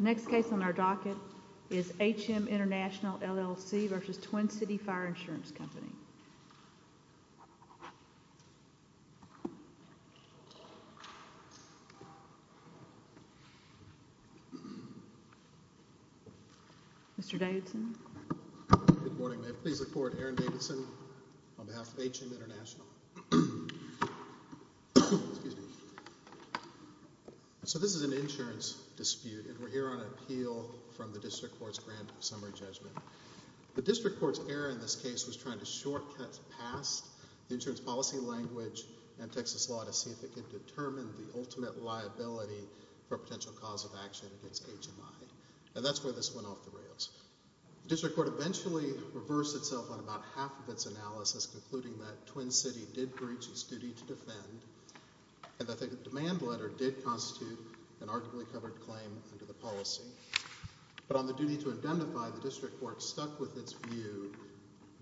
Next case on our docket is HM Intl LLC v. Twin City Fire Insurance Company. Mr. Davidson. Good morning. May I please report Aaron Davidson on behalf of HM Intl. So this is an insurance dispute and we're here on an appeal from the District Court's grant of summary judgment. The District Court's error in this case was trying to shortcut past the insurance policy language and Texas law to see if it could determine the ultimate liability for a potential cause of action against HMI. And that's where this went off the rails. The District Court eventually reversed itself on about half of its analysis, concluding that Twin City did breach its duty to defend and that the demand letter did constitute an arguably covered claim under the policy. But on the duty to identify, the District Court stuck with its view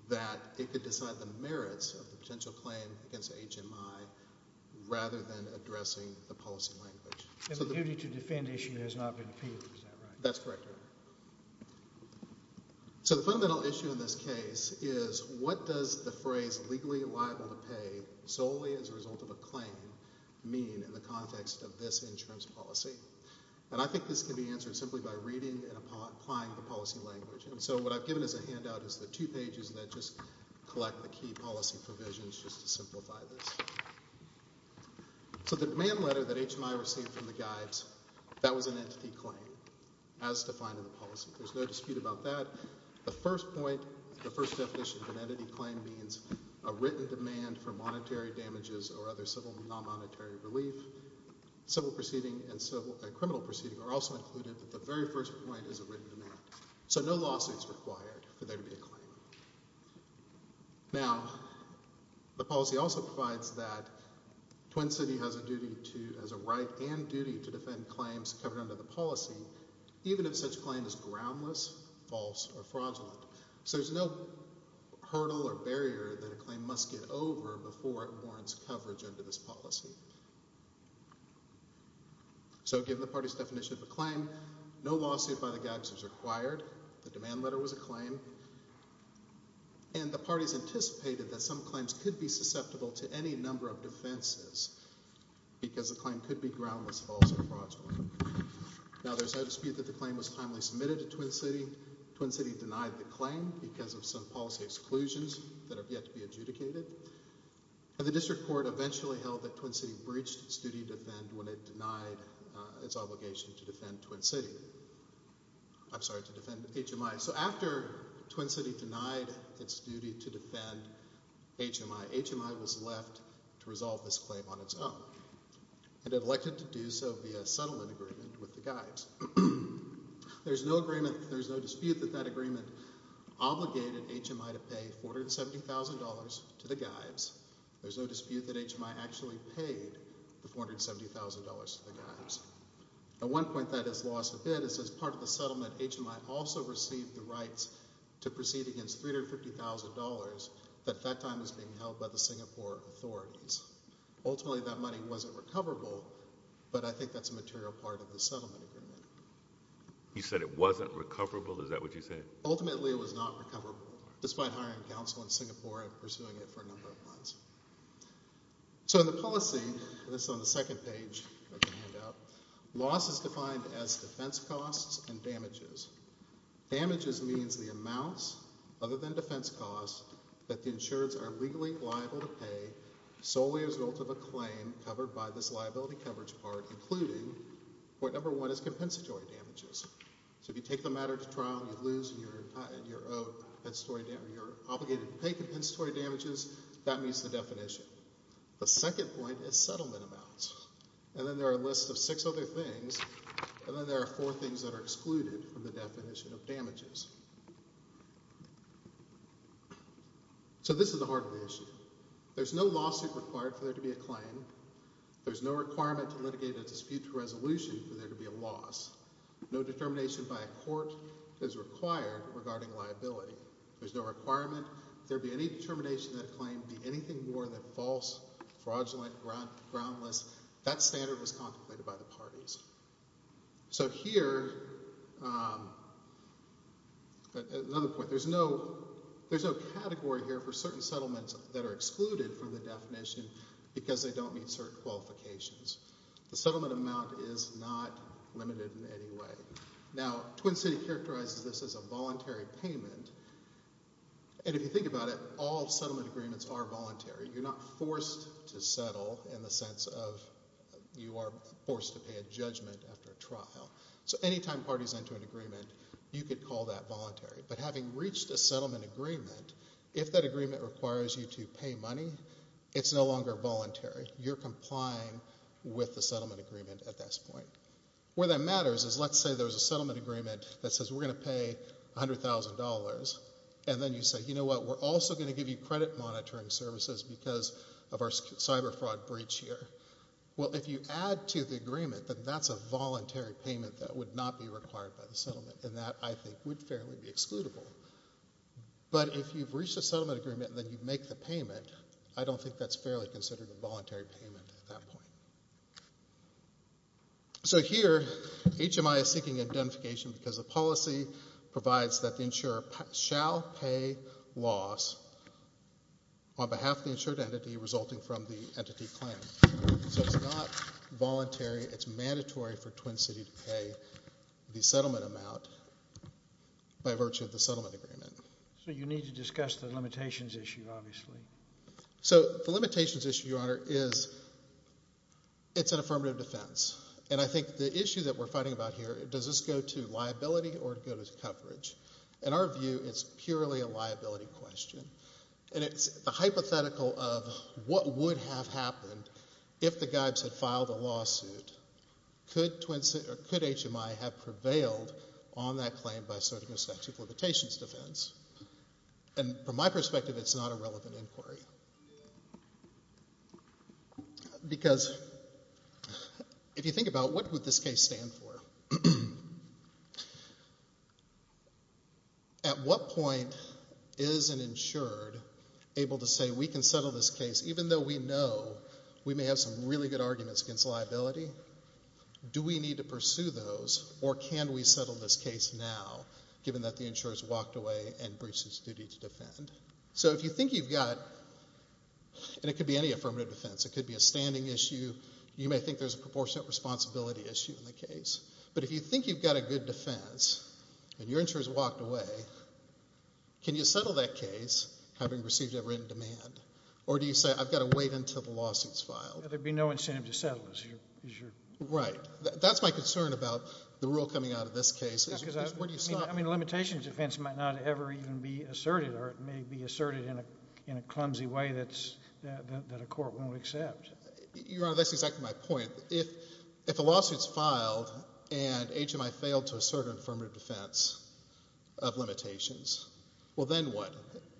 that it could decide the merits of the potential claim against HMI rather than addressing the policy language. And the duty to defend issue has not been appealed, is that right? That's correct. So the fundamental issue in this case is what does the phrase legally liable to pay solely as a result of a claim mean in the context of this insurance policy? And I think this can be answered simply by reading and applying the policy language. And so what I've given as a handout is the two pages that just collect the key policy provisions just to simplify this. So the demand letter that HMI received from the guides, that was an entity claim as defined in the policy. There's no dispute about that. The first point, the first definition of an entity claim means a written demand for monetary damages or other non-monetary relief. Civil proceeding and criminal proceeding are also included, but the very first point is a written demand. So no lawsuits required for there to be a claim. Now, the policy also provides that Twin City has a duty to, has a right and duty to defend claims covered under the policy, even if such claim is groundless, false, or fraudulent. So there's no hurdle or barrier that a claim must get over before it warrants coverage under this policy. So given the party's definition of a claim, no lawsuit by the guides was required. The demand letter was a claim. And the parties anticipated that some claims could be susceptible to any number of defenses because the claim could be groundless, false, or fraudulent. Now, there's no dispute that the claim was timely submitted to Twin City. Twin City denied the claim because of some policy exclusions that have yet to be adjudicated. And the district court eventually held that Twin City breached its duty to defend when it denied its obligation to defend Twin City. I'm sorry, to defend HMI. So after Twin City denied its duty to defend HMI, HMI was left to resolve this claim on its own. And it elected to do so via settlement agreement with the guides. There's no agreement, there's no dispute that that agreement obligated HMI to pay $470,000 to the guides. There's no dispute that HMI actually paid the $470,000 to the guides. At one point, that is lost a bit. It says part of the settlement, HMI also received the rights to proceed against $350,000 that at that time was being held by the Singapore authorities. Ultimately, that money wasn't recoverable, but I think that's a material part of the settlement agreement. You said it wasn't recoverable, is that what you said? Ultimately, it was not recoverable, despite hiring counsel in Singapore and pursuing it for a number of months. So in the policy, this is on the second page, I can hand out, loss is defined as defense costs and damages. Damages means the amounts, other than defense costs, that the insurers are legally liable to pay solely as a result of a claim covered by this liability coverage part, including point number one is compensatory damages. So if you take the matter to trial and you lose and you're obligated to pay compensatory damages, that meets the definition. The second point is settlement amounts, and then there are a list of six other things, and then there are four things that are excluded from the definition of damages. So this is the heart of the issue. There's no lawsuit required for there to be a claim. There's no requirement to litigate a dispute to resolution for there to be a loss. No determination by a court is required regarding liability. There's no requirement there be any determination that a claim be anything more than false, fraudulent, groundless. That standard was contemplated by the parties. So here, another point, there's no category here for certain settlements that are excluded from the definition because they don't meet certain qualifications. The settlement amount is not limited in any way. Now, Twin City characterizes this as a voluntary payment, and if you think about it, all settlement agreements are voluntary. You're not forced to settle in the sense of you are forced to pay a judgment after a trial. So anytime parties enter an agreement, you could call that voluntary. But having reached a settlement agreement, if that agreement requires you to pay money, it's no longer voluntary. You're complying with the settlement agreement at this point. Where that matters is let's say there's a settlement agreement that says we're going to pay $100,000, and then you say, you know what, we're also going to give you credit monitoring services because of our cyber fraud breach here. Well, if you add to the agreement, then that's a voluntary payment that would not be required by the settlement, and that I think would fairly be excludable. But if you've reached a settlement agreement and then you make the payment, I don't think that's fairly considered a voluntary payment at that point. So here, HMI is seeking identification because the policy provides that the insurer shall pay loss on behalf of the insured entity resulting from the entity claim. So it's not voluntary. It's mandatory for Twin City to pay the settlement amount by virtue of the settlement agreement. So you need to discuss the limitations issue, obviously. So the limitations issue, Your Honor, is it's an affirmative defense. And I think the issue that we're fighting about here, does this go to liability or go to coverage? In our view, it's purely a liability question. And it's the hypothetical of what would have happened if the G.I.B.S. had filed a lawsuit? Could HMI have prevailed on that claim by serving a statute of limitations defense? And from my perspective, it's not a relevant inquiry. Because if you think about what would this case stand for? At what point is an insured able to say, we can settle this case even though we know we may have some really good arguments against liability? Do we need to pursue those? Or can we settle this case now, given that the insurer's walked away and breached his duty to defend? So if you think you've got, and it could be any affirmative defense. It could be a standing issue. You may think there's a proportionate responsibility issue in the case. But if you can you settle that case, having received a written demand? Or do you say, I've got to wait until the lawsuit's filed? There'd be no incentive to settle. Right. That's my concern about the rule coming out of this case. I mean, limitations defense might not ever even be asserted. Or it may be asserted in a clumsy way that a court won't accept. Your Honor, that's exactly my point. If a lawsuit's filed and HMI failed to assert an adjudication, well then what?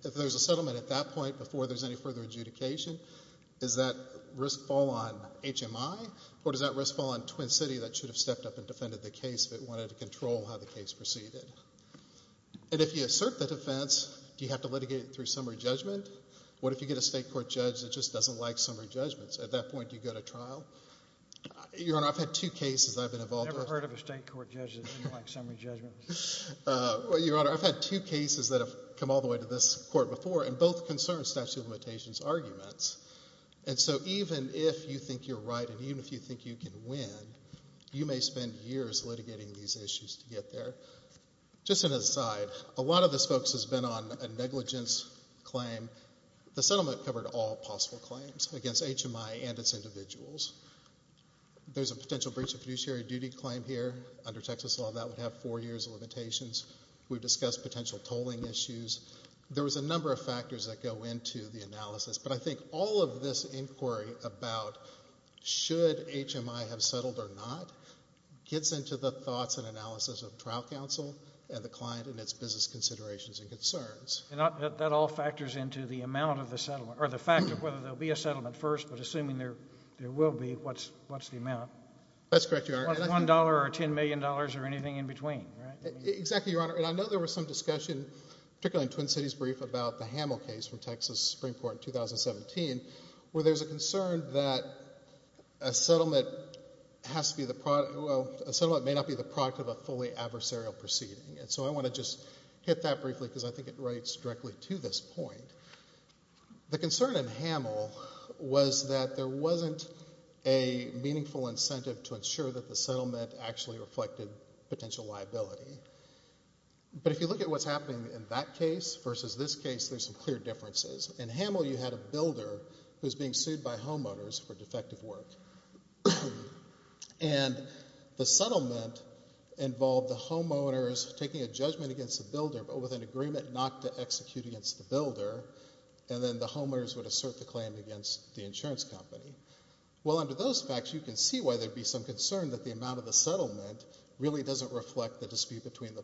If there's a settlement at that point before there's any further adjudication, does that risk fall on HMI? Or does that risk fall on Twin City that should have stepped up and defended the case if it wanted to control how the case proceeded? And if you assert the defense, do you have to litigate it through summary judgment? What if you get a state court judge that just doesn't like summary judgments? At that point, do you go to trial? Your Honor, I've had two cases I've been involved with. I've never heard of a state court judge that doesn't like summary judgment. Your Honor, I've had two cases that have come all the way to this court before and both concern statute of limitations arguments. And so even if you think you're right and even if you think you can win, you may spend years litigating these issues to get there. Just as an aside, a lot of this focus has been on a negligence claim. The settlement covered all possible claims against HMI and its individuals. There's a potential breach of fiduciary duty claim here under Texas law that would have four years of limitations. We've discussed potential tolling issues. There was a number of factors that go into the analysis. But I think all of this inquiry about should HMI have settled or not gets into the thoughts and analysis of trial counsel and the client and its business considerations and concerns. And that all factors into the amount of the settlement or the fact of whether there will be a settlement first, but assuming there will be, what's the amount? That's correct, Your Honor. One dollar or ten million dollars or anything in between, right? Exactly, Your Honor. And I know there was some discussion, particularly in Twin Cities brief, about the Hamill case from Texas Supreme Court in 2017, where there's a concern that a settlement has to be the, well, a settlement may not be the product of a fully adversarial proceeding. And so I want to just hit that briefly because I think it writes directly to this point. The concern in Hamill was that there wasn't a meaningful incentive to ensure that the But if you look at what's happening in that case versus this case, there's some clear differences. In Hamill, you had a builder who's being sued by homeowners for defective work. And the settlement involved the homeowners taking a judgment against the builder, but with an agreement not to execute against the builder, and then the homeowners would assert the claim against the insurance company. Well, under those facts, you can see why there'd be some concern that the amount of the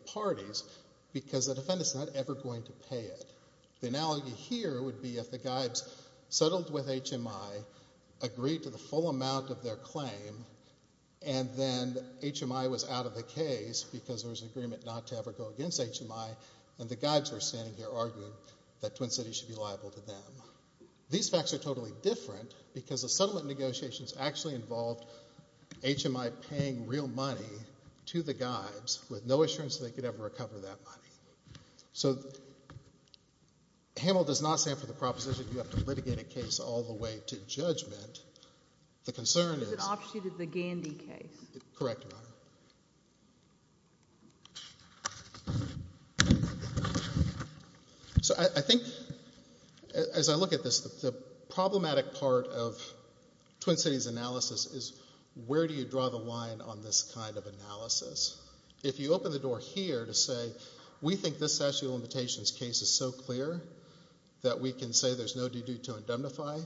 parties, because the defendant's not ever going to pay it. The analogy here would be if the Guibes settled with HMI, agreed to the full amount of their claim, and then HMI was out of the case because there was an agreement not to ever go against HMI, and the Guibes were standing here arguing that Twin Cities should be liable to them. These facts are totally different because the settlement negotiations actually involved HMI paying real money to the Guibes with no assurance that they could ever recover that money. So Hamill does not stand for the proposition that you have to litigate a case all the way to judgment. The concern is... Because it obfuscated the Gandy case. Correct, Your Honor. So I think as I look at this, the problematic part of Twin Cities' analysis is where do you draw the line on this kind of analysis? If you open the door here to say, we think this statute of limitations case is so clear that we can say there's no duty to indemnify,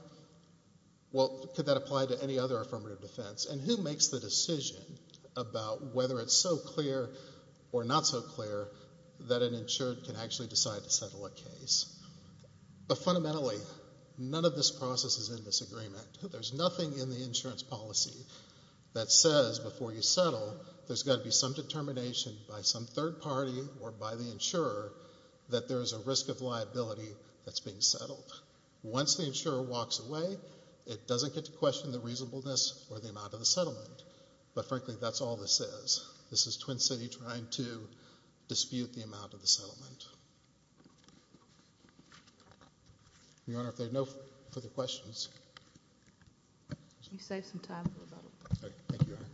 well, could that apply to any other affirmative defense? And who makes the decision about whether it's so clear or not so clear that an insured can actually decide to settle a case? But fundamentally, none of this process is in disagreement. There's nothing in the insurance policy that says before you settle, there's got to be some determination by some third party or by the insurer that there is a risk of liability that's being settled. Once the insurer walks away, it doesn't get to question the reasonableness or the amount of the settlement. But frankly, that's all this is. This is Twin City trying to dispute the amount of the settlement. Your Honor, if there are no further questions... Thank you, Your Honor.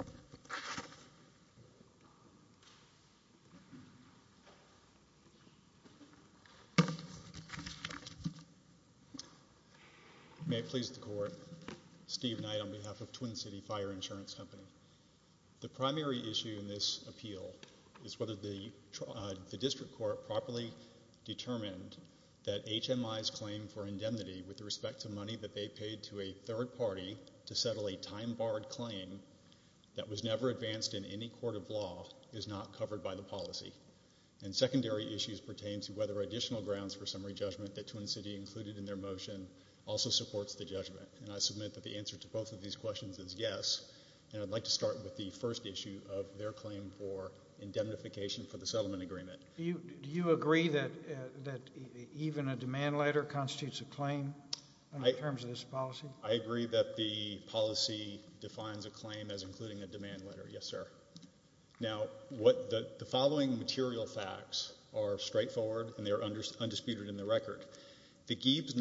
May it please the Court, Steve Knight on behalf of Twin City Fire Insurance Company. The primary issue in this appeal is whether the district court properly determined that HMI's claim for indemnity with respect to money that they paid to a third party to settle a time-barred claim that was never advanced in any court of law is not covered by the policy. And secondary issues pertain to whether additional grounds for summary judgment that are included in their motion also supports the judgment. And I submit that the answer to both of these questions is yes. And I'd like to start with the first issue of their claim for indemnification for the settlement agreement. Do you agree that even a demand letter constitutes a claim in terms of this policy? I agree that the policy defines a claim as including a demand letter. Yes, sir. Now, the following material facts are straightforward and they are undisputed in the record. The Gibbs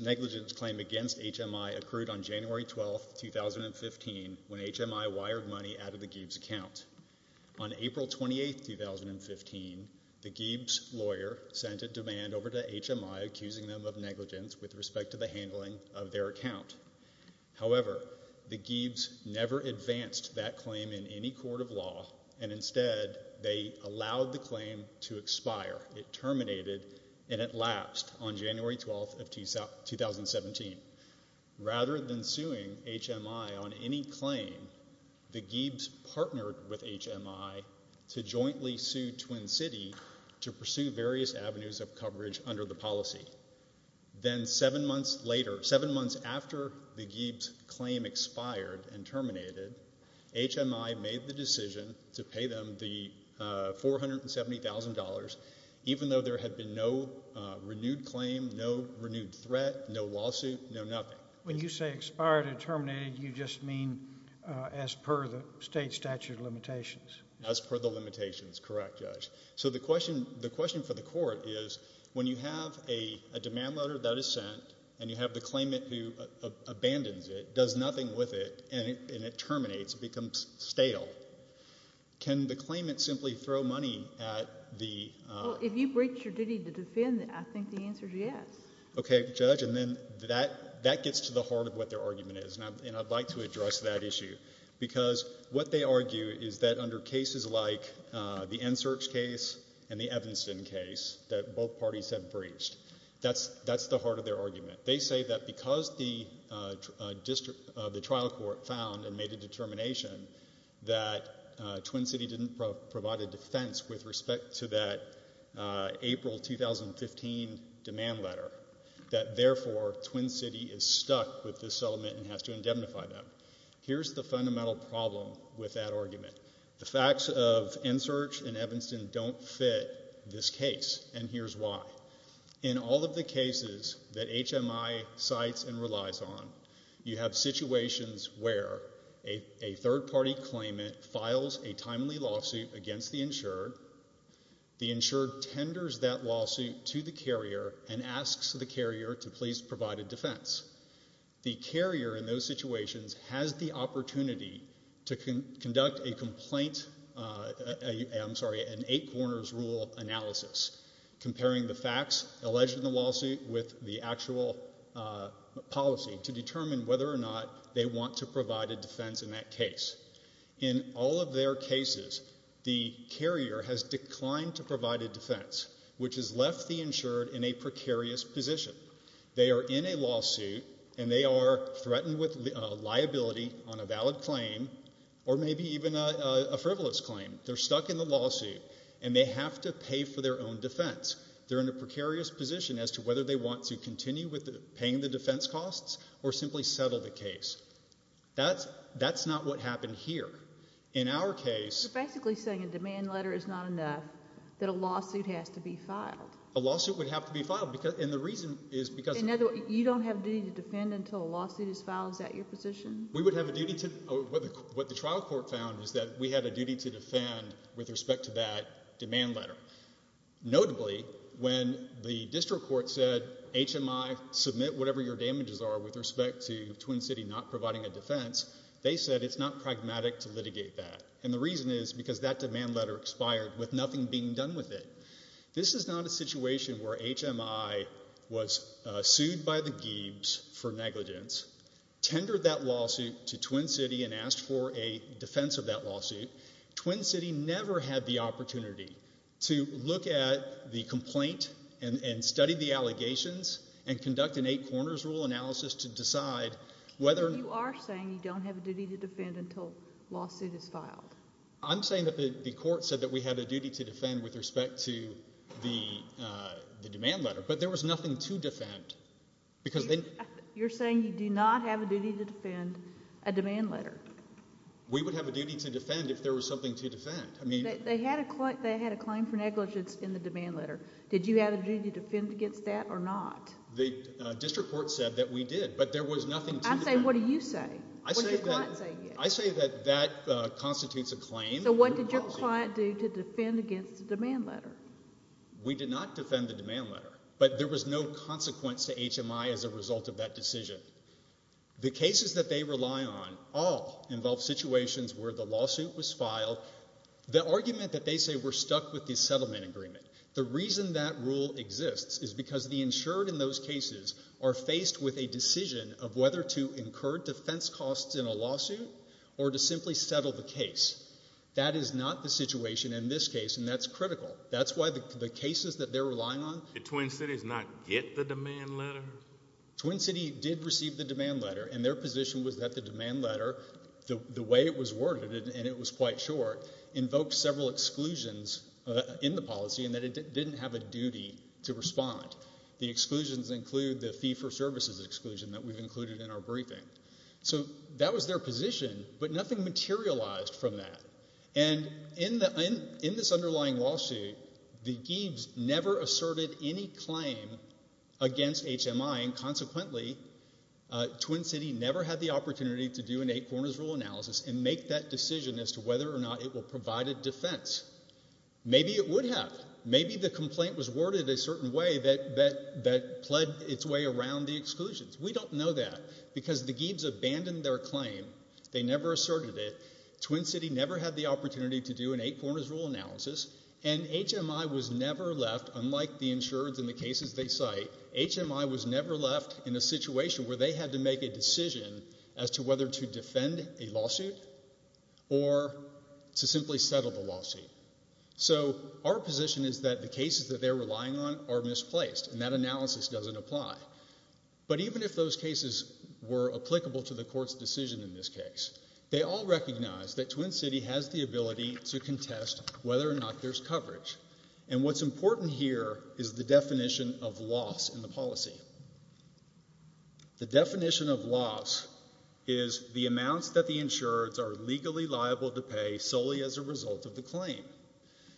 negligence claim against HMI accrued on January 12, 2015, when HMI wired money out of the Gibbs account. On April 28, 2015, the Gibbs lawyer sent a demand over to HMI accusing them of negligence with respect to the handling of their account. However, the Gibbs never advanced that claim in any court of law, and instead they allowed the claim to expire. It terminated and it lapsed on January 12, 2017. Rather than suing HMI on any claim, the Gibbs partnered with HMI to jointly sue Twin City to pursue various avenues of coverage under the policy. Then seven months later, seven months after the Gibbs claim expired and terminated, HMI made the decision to pay them the $470,000 even though there had been no renewed claim, no renewed threat, no lawsuit, no nothing. When you say expired and terminated, you just mean as per the state statute of limitations? As per the limitations, correct, Judge. So the question for the court is when you have a demand letter that is sent and you have the claimant who abandons it, does nothing with it, and it terminates, it becomes stale, can the claimant simply throw money at the Well, if you breached your duty to defend them, I think the answer is yes. Okay, Judge, and then that gets to the heart of what their argument is, and I would like to address that issue. Because what they argue is that under cases like the Nsearch case and the Evanston case that both parties have breached, that's the heart of their argument. They say that because the trial court found and made a determination that Twin City didn't provide a defense with respect to that April 2015 demand letter, that therefore Twin City is stuck with this settlement and has to indemnify them. Here's the fundamental problem with that argument. The facts of Nsearch and Evanston don't fit this case, and here's why. In all of the cases that HMI cites and relies on, you have situations where a third-party claimant files a timely lawsuit against the insured, the insured tenders that lawsuit to the carrier and asks the carrier to please provide a defense. The carrier in those situations has the opportunity to conduct an eight-corners rule analysis, comparing the facts alleged in the lawsuit with the actual policy to determine whether or not they want to provide a defense in that case. In all of their cases, the carrier has declined to provide a defense, which has left the insured in a precarious position. They are in a lawsuit, and they are threatened with liability on a valid claim, or maybe even a frivolous claim. They're stuck in the lawsuit, and they have to pay for their own defense. They're in a precarious position as to whether they want to continue with paying the defense costs or simply settle the case. That's not what happened here. In our case... You're basically saying a demand letter is not enough, that a lawsuit has to be filed. A lawsuit would have to be filed, and the reason is because... In other words, you don't have a duty to defend until a lawsuit is filed. Is that your position? We would have a duty to... What the trial court found is that we had a duty to defend with respect to that demand letter. Notably, when the district court said, HMI, submit whatever your damages are with respect to Twin City not providing a defense, they said it's not pragmatic to litigate that. And the reason is because that demand letter expired with nothing being done with it. This is not a situation where HMI was sued by the Gibbs for negligence, tendered that lawsuit to Twin City and asked for a defense of that lawsuit. Twin City never had the opportunity to look at the complaint and study the allegations and conduct an eight corners rule analysis to decide whether... You are saying you don't have a duty to defend until a lawsuit is filed. I'm saying that the court said that we had a duty to defend with respect to the demand letter, but there was nothing to defend. You're saying you do not have a duty to defend a demand letter. We would have a duty to defend if there was something to defend. They had a claim for negligence in the demand letter. Did you have a duty to defend against that or not? The district court said that we did, but there was nothing to defend. I'm saying, what do you say? I say that that constitutes a claim. So what did your client do to defend against the demand letter? We did not defend the demand letter, but there was no consequence to HMI as a result of that decision. The cases that they rely on all involve situations where the lawsuit was filed. The argument that they say we're stuck with the settlement agreement, the reason that rule exists is because the insured in those cases are faced with a decision of whether to incur defense costs in a lawsuit or to simply settle the case. That is not the situation in this case, and that's critical. That's why the cases that they're relying on— Did Twin Cities not get the demand letter? Twin Cities did receive the demand letter, and their position was that the demand letter, the way it was worded, and it was quite short, invoked several exclusions in the policy and that it didn't have a duty to respond. The exclusions include the fee-for-services exclusion that we've included in our briefing. So that was their position, but nothing materialized from that. And in this underlying lawsuit, the Gibbs never asserted any claim against HMI, and consequently, Twin City never had the opportunity to do an eight-corners rule analysis and make that decision as to whether or not it will provide a defense. Maybe it would have. Maybe the complaint was worded a certain way that pled its way around the exclusions. We don't know that because the Gibbs abandoned their claim. They never asserted it. Twin City never had the opportunity to do an eight-corners rule analysis, and HMI was never left— Unlike the insurers and the cases they cite, HMI was never left in a situation where they had to make a decision as to whether to defend a lawsuit or to simply settle the lawsuit. So our position is that the cases that they're relying on are misplaced, and that analysis doesn't apply. But even if those cases were applicable to the court's decision in this case, they all recognize that Twin City has the ability to contest whether or not there's coverage. And what's important here is the definition of loss in the policy. The definition of loss is the amounts that the insurers are legally liable to pay solely as a result of the claim.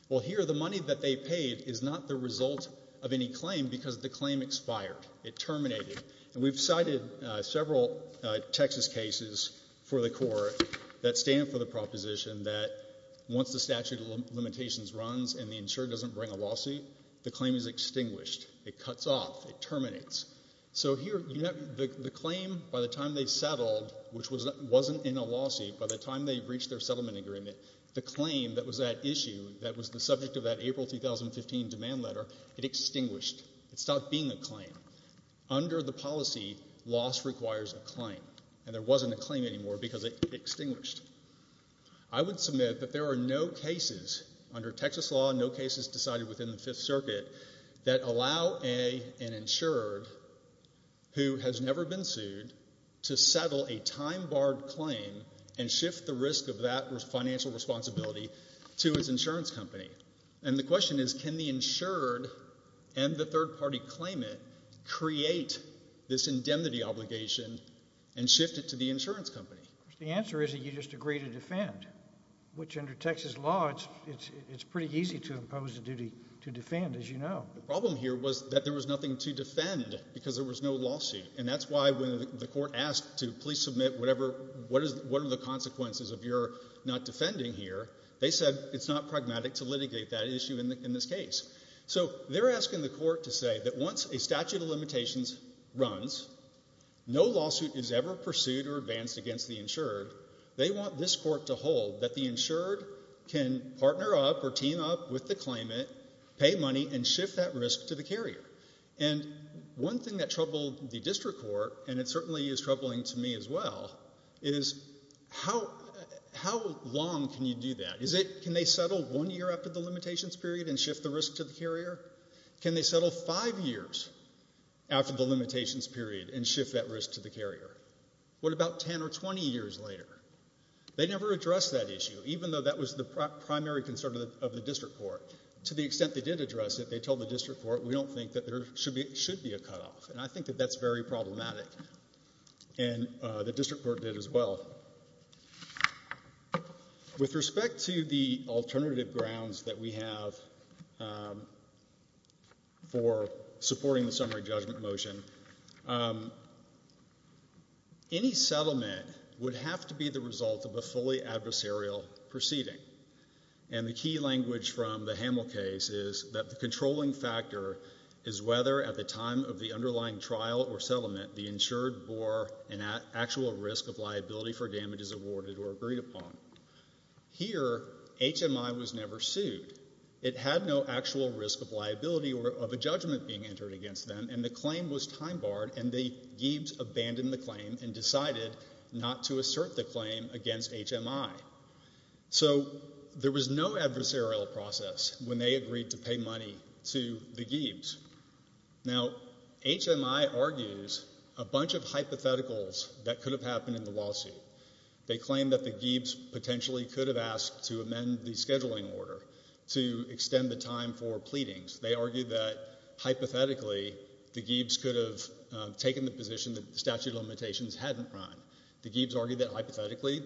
Well, here, the money that they paid is not the result of any claim because the claim expired. It terminated. And we've cited several Texas cases for the court that stand for the proposition that once the statute of limitations runs and the insurer doesn't bring a lawsuit, the claim is extinguished. It cuts off. It terminates. So here, the claim, by the time they settled, which wasn't in a lawsuit, by the time they reached their settlement agreement, the claim that was that issue, that was the subject of that April 2015 demand letter, it extinguished. It stopped being a claim. Under the policy, loss requires a claim. And there wasn't a claim anymore because it extinguished. I would submit that there are no cases under Texas law, no cases decided within the Fifth Circuit, that allow an insurer who has never been sued to settle a time-barred claim and shift the risk of that financial responsibility to his insurance company. And the question is, can the insured and the third-party claimant create this indemnity obligation and shift it to the insurance company? The answer is that you just agree to defend, which under Texas law, it's pretty easy to impose a duty to defend, as you know. The problem here was that there was nothing to defend because there was no lawsuit. And that's why when the court asked to please submit what are the consequences of your not defending here, they said it's not pragmatic to litigate that issue in this case. So they're asking the court to say that once a statute of limitations runs, no lawsuit is ever pursued or advanced against the insured, they want this court to hold that the insured can partner up or team up with the claimant, pay money, and shift that risk to the carrier. And one thing that troubled the district court, and it certainly is troubling to me as well, is how long can you do that? Can they settle one year after the limitations period and shift the risk to the carrier? Can they settle five years after the limitations period and shift that risk to the carrier? What about 10 or 20 years later? They never addressed that issue, even though that was the primary concern of the district court. To the extent they did address it, they told the district court we don't think that there should be a cutoff. And I think that that's very problematic. And the district court did as well. With respect to the alternative grounds that we have for supporting the summary judgment motion, any settlement would have to be the result of a fully adversarial proceeding. And the key language from the Hamill case is that the controlling factor is whether at the time of the underlying trial or settlement the insured bore an actual risk of liability for damages awarded or agreed upon. Here, HMI was never sued. It had no actual risk of liability or of a judgment being entered against them, and the claim was time-barred, and the Giebs abandoned the claim and decided not to assert the claim against HMI. So there was no adversarial process when they agreed to pay money to the Giebs. Now, HMI argues a bunch of hypotheticals that could have happened in the lawsuit. They claim that the Giebs potentially could have asked to amend the scheduling order to extend the time for pleadings. They argue that, hypothetically, the Giebs could have taken the position that the statute of limitations hadn't run. The Giebs argue that, hypothetically,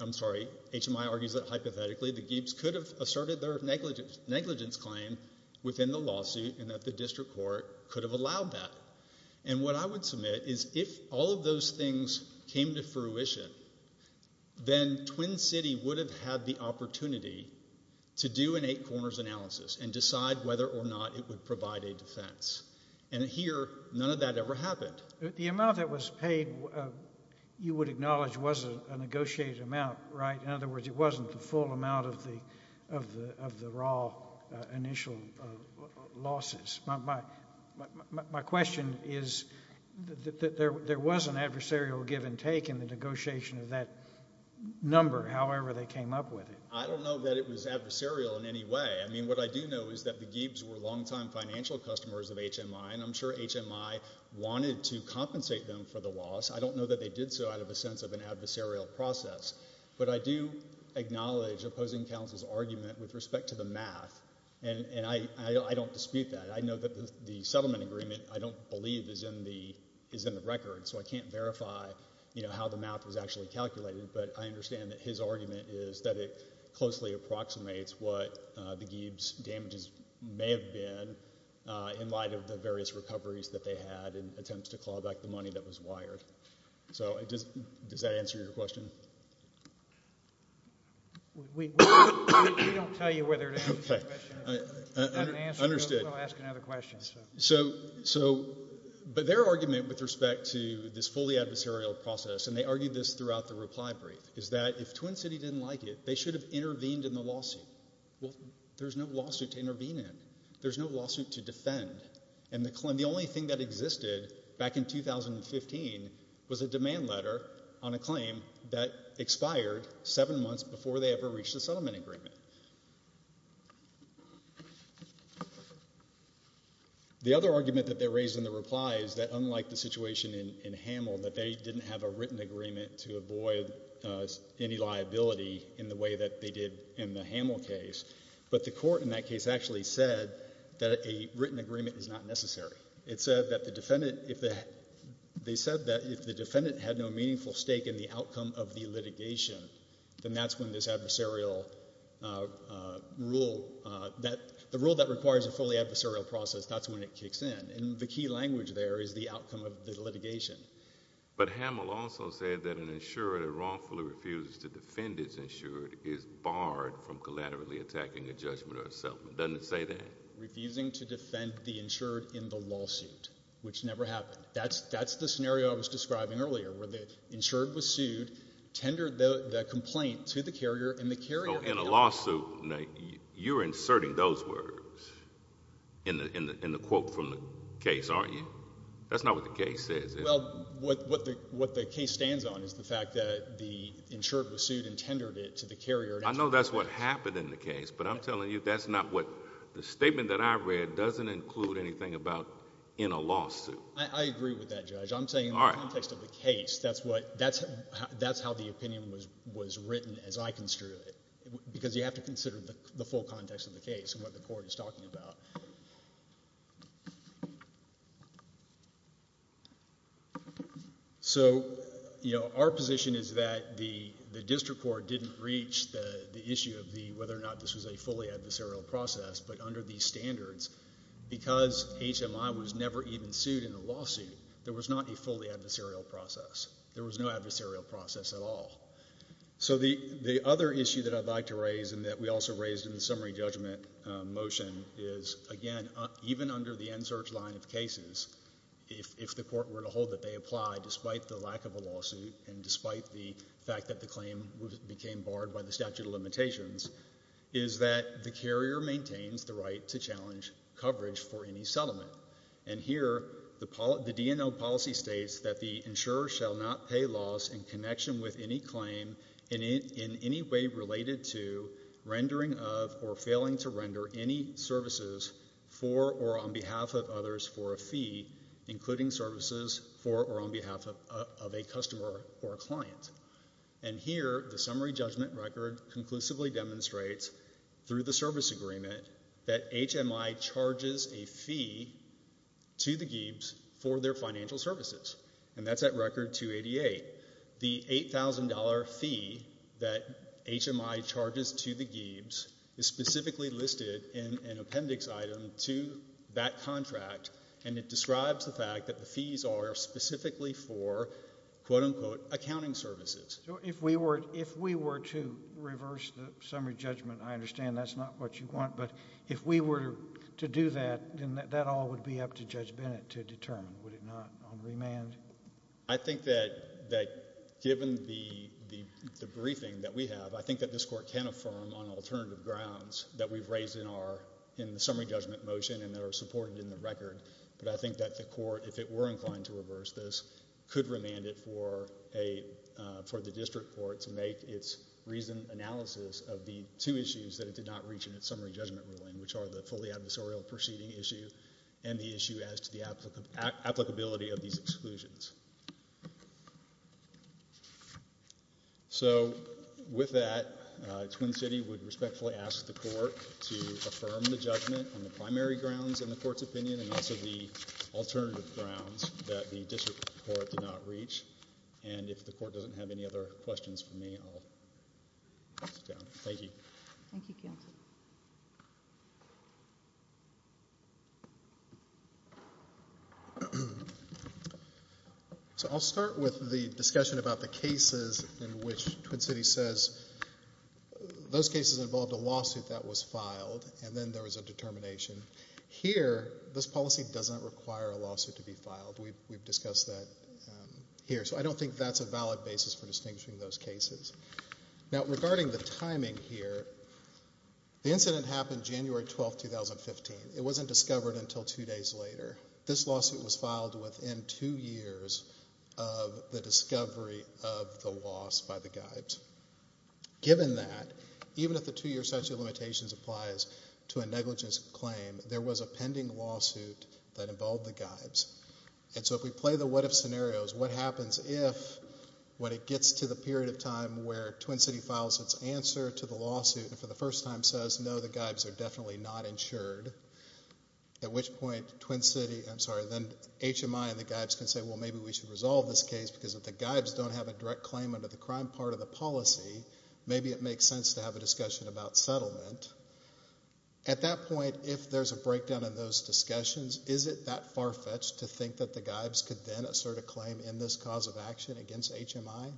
I'm sorry, HMI argues that, hypothetically, the Giebs could have asserted their negligence claim within the lawsuit and that the district court could have allowed that. And what I would submit is if all of those things came to fruition, then Twin City would have had the opportunity to do an eight-corners analysis and decide whether or not it would provide a defense. And here, none of that ever happened. The amount that was paid, you would acknowledge was a negotiated amount, right? In other words, it wasn't the full amount of the raw initial losses. My question is that there was an adversarial give and take in the negotiation of that number, however they came up with it. I don't know that it was adversarial in any way. I mean, what I do know is that the Giebs were longtime financial customers of HMI, and I'm sure HMI wanted to compensate them for the loss. I don't know that they did so out of a sense of an adversarial process. But I do acknowledge opposing counsel's argument with respect to the math, and I don't dispute that. I know that the settlement agreement, I don't believe is in the record, so I can't verify how the math was actually calculated. But I understand that his argument is that it closely approximates what the Giebs' damages may have been in light of the various recoveries that they had in attempts to claw back the money that was wired. So does that answer your question? We don't tell you whether it answers your question. Understood. So, but their argument with respect to this fully adversarial process, and they argued this throughout the reply brief, is that if Twin City didn't like it, they should have intervened in the lawsuit. Well, there's no lawsuit to intervene in. There's no lawsuit to defend. And the only thing that existed back in 2015 was a demand letter on a claim that expired seven months before they ever reached a settlement agreement. The other argument that they raised in the reply is that, unlike the situation in Hamel, that they didn't have a written agreement to avoid any liability in the way that they did in the Hamel case, but the court in that case actually said that a written agreement is not necessary. It said that the defendant, they said that if the defendant had no meaningful stake in the outcome of the litigation, then that's when this adversarial rule, the rule that requires a fully adversarial process, that's when it kicks in. And the key language there is the outcome of the litigation. But Hamel also said that an insurer that wrongfully refuses to defend its insured is barred from collaterally attacking a judgment or a settlement. Doesn't it say that? Refusing to defend the insured in the lawsuit, which never happened. That's the scenario I was describing earlier, where the insured was sued, tendered the complaint to the carrier, and the carrier... In a lawsuit, you're inserting those words in the quote from the case, aren't you? That's not what the case says. Well, what the case stands on is the fact that the insured was sued and tendered it to the carrier... I know that's what happened in the case, but I'm telling you that's not what... The statement that I read doesn't include anything about in a lawsuit. I agree with that, Judge. I'm saying in the context of the case, that's how the opinion was written as I consider it. Because you have to consider the full context of the case and what the court is talking about. Our position is that the district court didn't reach the issue of whether or not this was a fully adversarial process, but under these standards, because HMI was never even sued in a lawsuit, there was not a fully adversarial process. There was no adversarial process at all. The other issue that I'd like to raise and that we also raised in the summary judgment motion is, again, even under the NSEARCH line of cases, if the court were to hold that they apply despite the lack of a lawsuit and despite the fact that the claim became barred by the statute of limitations, is that the carrier maintains the right to challenge coverage for any settlement. And here, the DNO policy states that the insurer shall not pay loss in connection with any claim in any way related to rendering of or failing to render any services for or on behalf of others for a fee including services for or on behalf of a customer or a client. And here, the summary judgment record conclusively demonstrates through the service agreement that HMI charges a fee to the GEBS for their financial services. And that's at record 288. The $8,000 fee that HMI charges to the GEBS is specifically listed in an appendix item to that contract and it describes the fact that the fees are specifically for quote-unquote accounting services. If we were to reverse the summary judgment, I understand that's not what you want, but if we were to do that, then that all would be up to Judge Bennett to determine. Would it not on remand? I think that given the briefing that we have, I think that this court can affirm on alternative grounds that we've raised in the summary judgment motion and that are supported in the record. But I think that the court, if it were inclined to reverse this, could remand it for the district court to make its reasoned analysis of the two issues that it did not reach in its summary judgment ruling, which are the fully adversarial proceeding issue and the issue as to the applicability of these exclusions. So, with that, Twin City would respectfully ask the court to affirm the judgment on the primary grounds in the court's opinion and also the alternative grounds that the district court did not reach. And if the court doesn't have any other questions for me, I'll sit down. Thank you. So I'll start with the discussion about the cases in which Twin City says those cases involved a lawsuit that was filed and then there was a determination. Here, this policy doesn't require a lawsuit to be filed. We've discussed that here, so I don't think that's a valid basis for distinguishing those cases. Now, regarding the timing here, the incident happened January 12, 2015. It wasn't discovered until two days later. This lawsuit was filed within two years of the discovery of the loss by the Guibes. Given that, even if the two-year statute of limitations applies to a negligence claim, there was a pending lawsuit that involved the Guibes. And so if we play the what-if scenarios, what happens if, when it gets to the period of time where Twin City files its answer to the lawsuit and for the first time says, no, the Guibes are definitely not insured, at which point Twin City, I'm sorry, then HMI and the Guibes can say, well, maybe we should resolve this case because if the Guibes don't have a direct claim under the crime part of the policy, maybe it makes sense to have a discussion about settlement. At that point, if there's a breakdown in those discussions, is it that far-fetched to think that the Guibes could then assert a claim in this cause of action against HMI?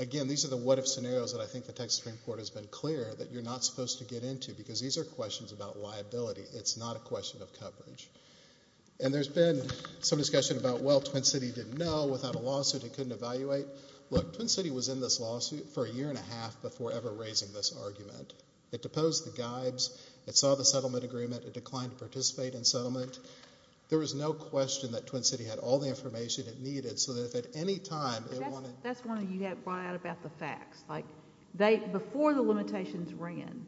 Again, these are the what-if scenarios that I think the Texas Supreme Court has been clear that you're not supposed to get into because these are questions about liability. It's not a question of coverage. And there's been some discussion about, well, Twin City didn't know. Without a lawsuit, it couldn't evaluate. Look, Twin City was in this argument. It deposed the Guibes. It saw the settlement agreement. It declined to participate in settlement. There was no question that Twin City had all the information it needed so that if at any time it wanted... That's one you had brought out about the facts. Before the limitations ran,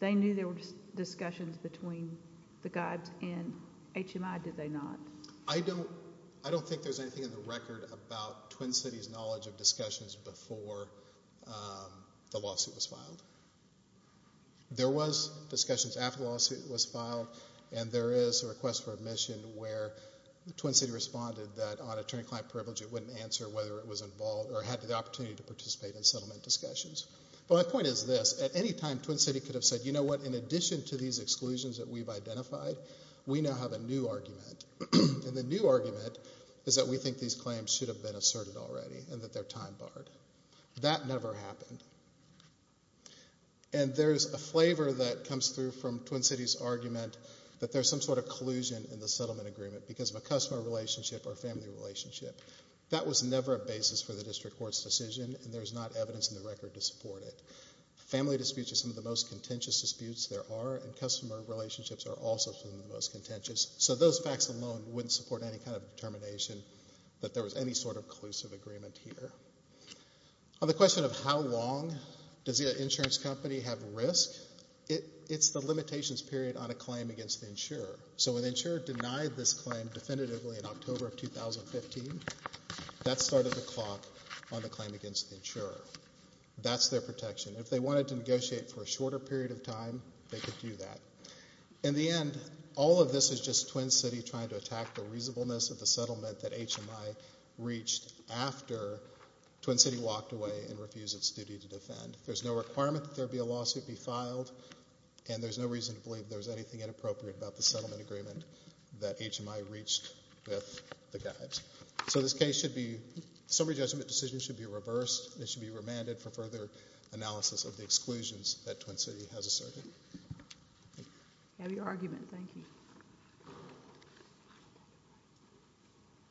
they knew there were discussions between the Guibes and HMI, did they not? I don't think there's anything in the record about Twin City's knowledge of discussions before the lawsuit was filed. There was discussions after the lawsuit was filed and there is a request for admission where Twin City responded that on attorney-client privilege it wouldn't answer whether it was involved or had the opportunity to participate in settlement discussions. But my point is this. At any time, Twin City could have said, you know what, in addition to these exclusions that we've identified, we now have a new argument. And the new argument is that we think these claims should have been asserted already and that they're time-barred. That never happened. And there's a flavor that comes through from Twin City's argument that there's some sort of collusion in the settlement agreement because of a customer relationship or family relationship. That was never a basis for the district court's decision and there's not evidence in the record to support it. Family disputes are some of the most contentious disputes there are contentious. So those facts alone wouldn't support any kind of determination that there was any sort of collusive agreement here. On the question of how long does the insurance company have risk, it's the limitations period on a claim against the insurer. So when the insurer denied this claim definitively in October of 2015, that started the clock on the claim against the insurer. That's their protection. If they wanted to negotiate for a shorter period of time, they could do that. In the end, all of this is just Twin City trying to attack the reasonableness of the settlement that HMI reached after Twin City walked away and refused its duty to defend. There's no requirement that there be a lawsuit be filed and there's no reason to believe there's anything inappropriate about the settlement agreement that HMI reached with the guys. So this case should be, summary judgment decision should be reversed, it should be remanded for further analysis of the exclusions that Twin City has asserted. Thank you. That concludes the argument. Thank you.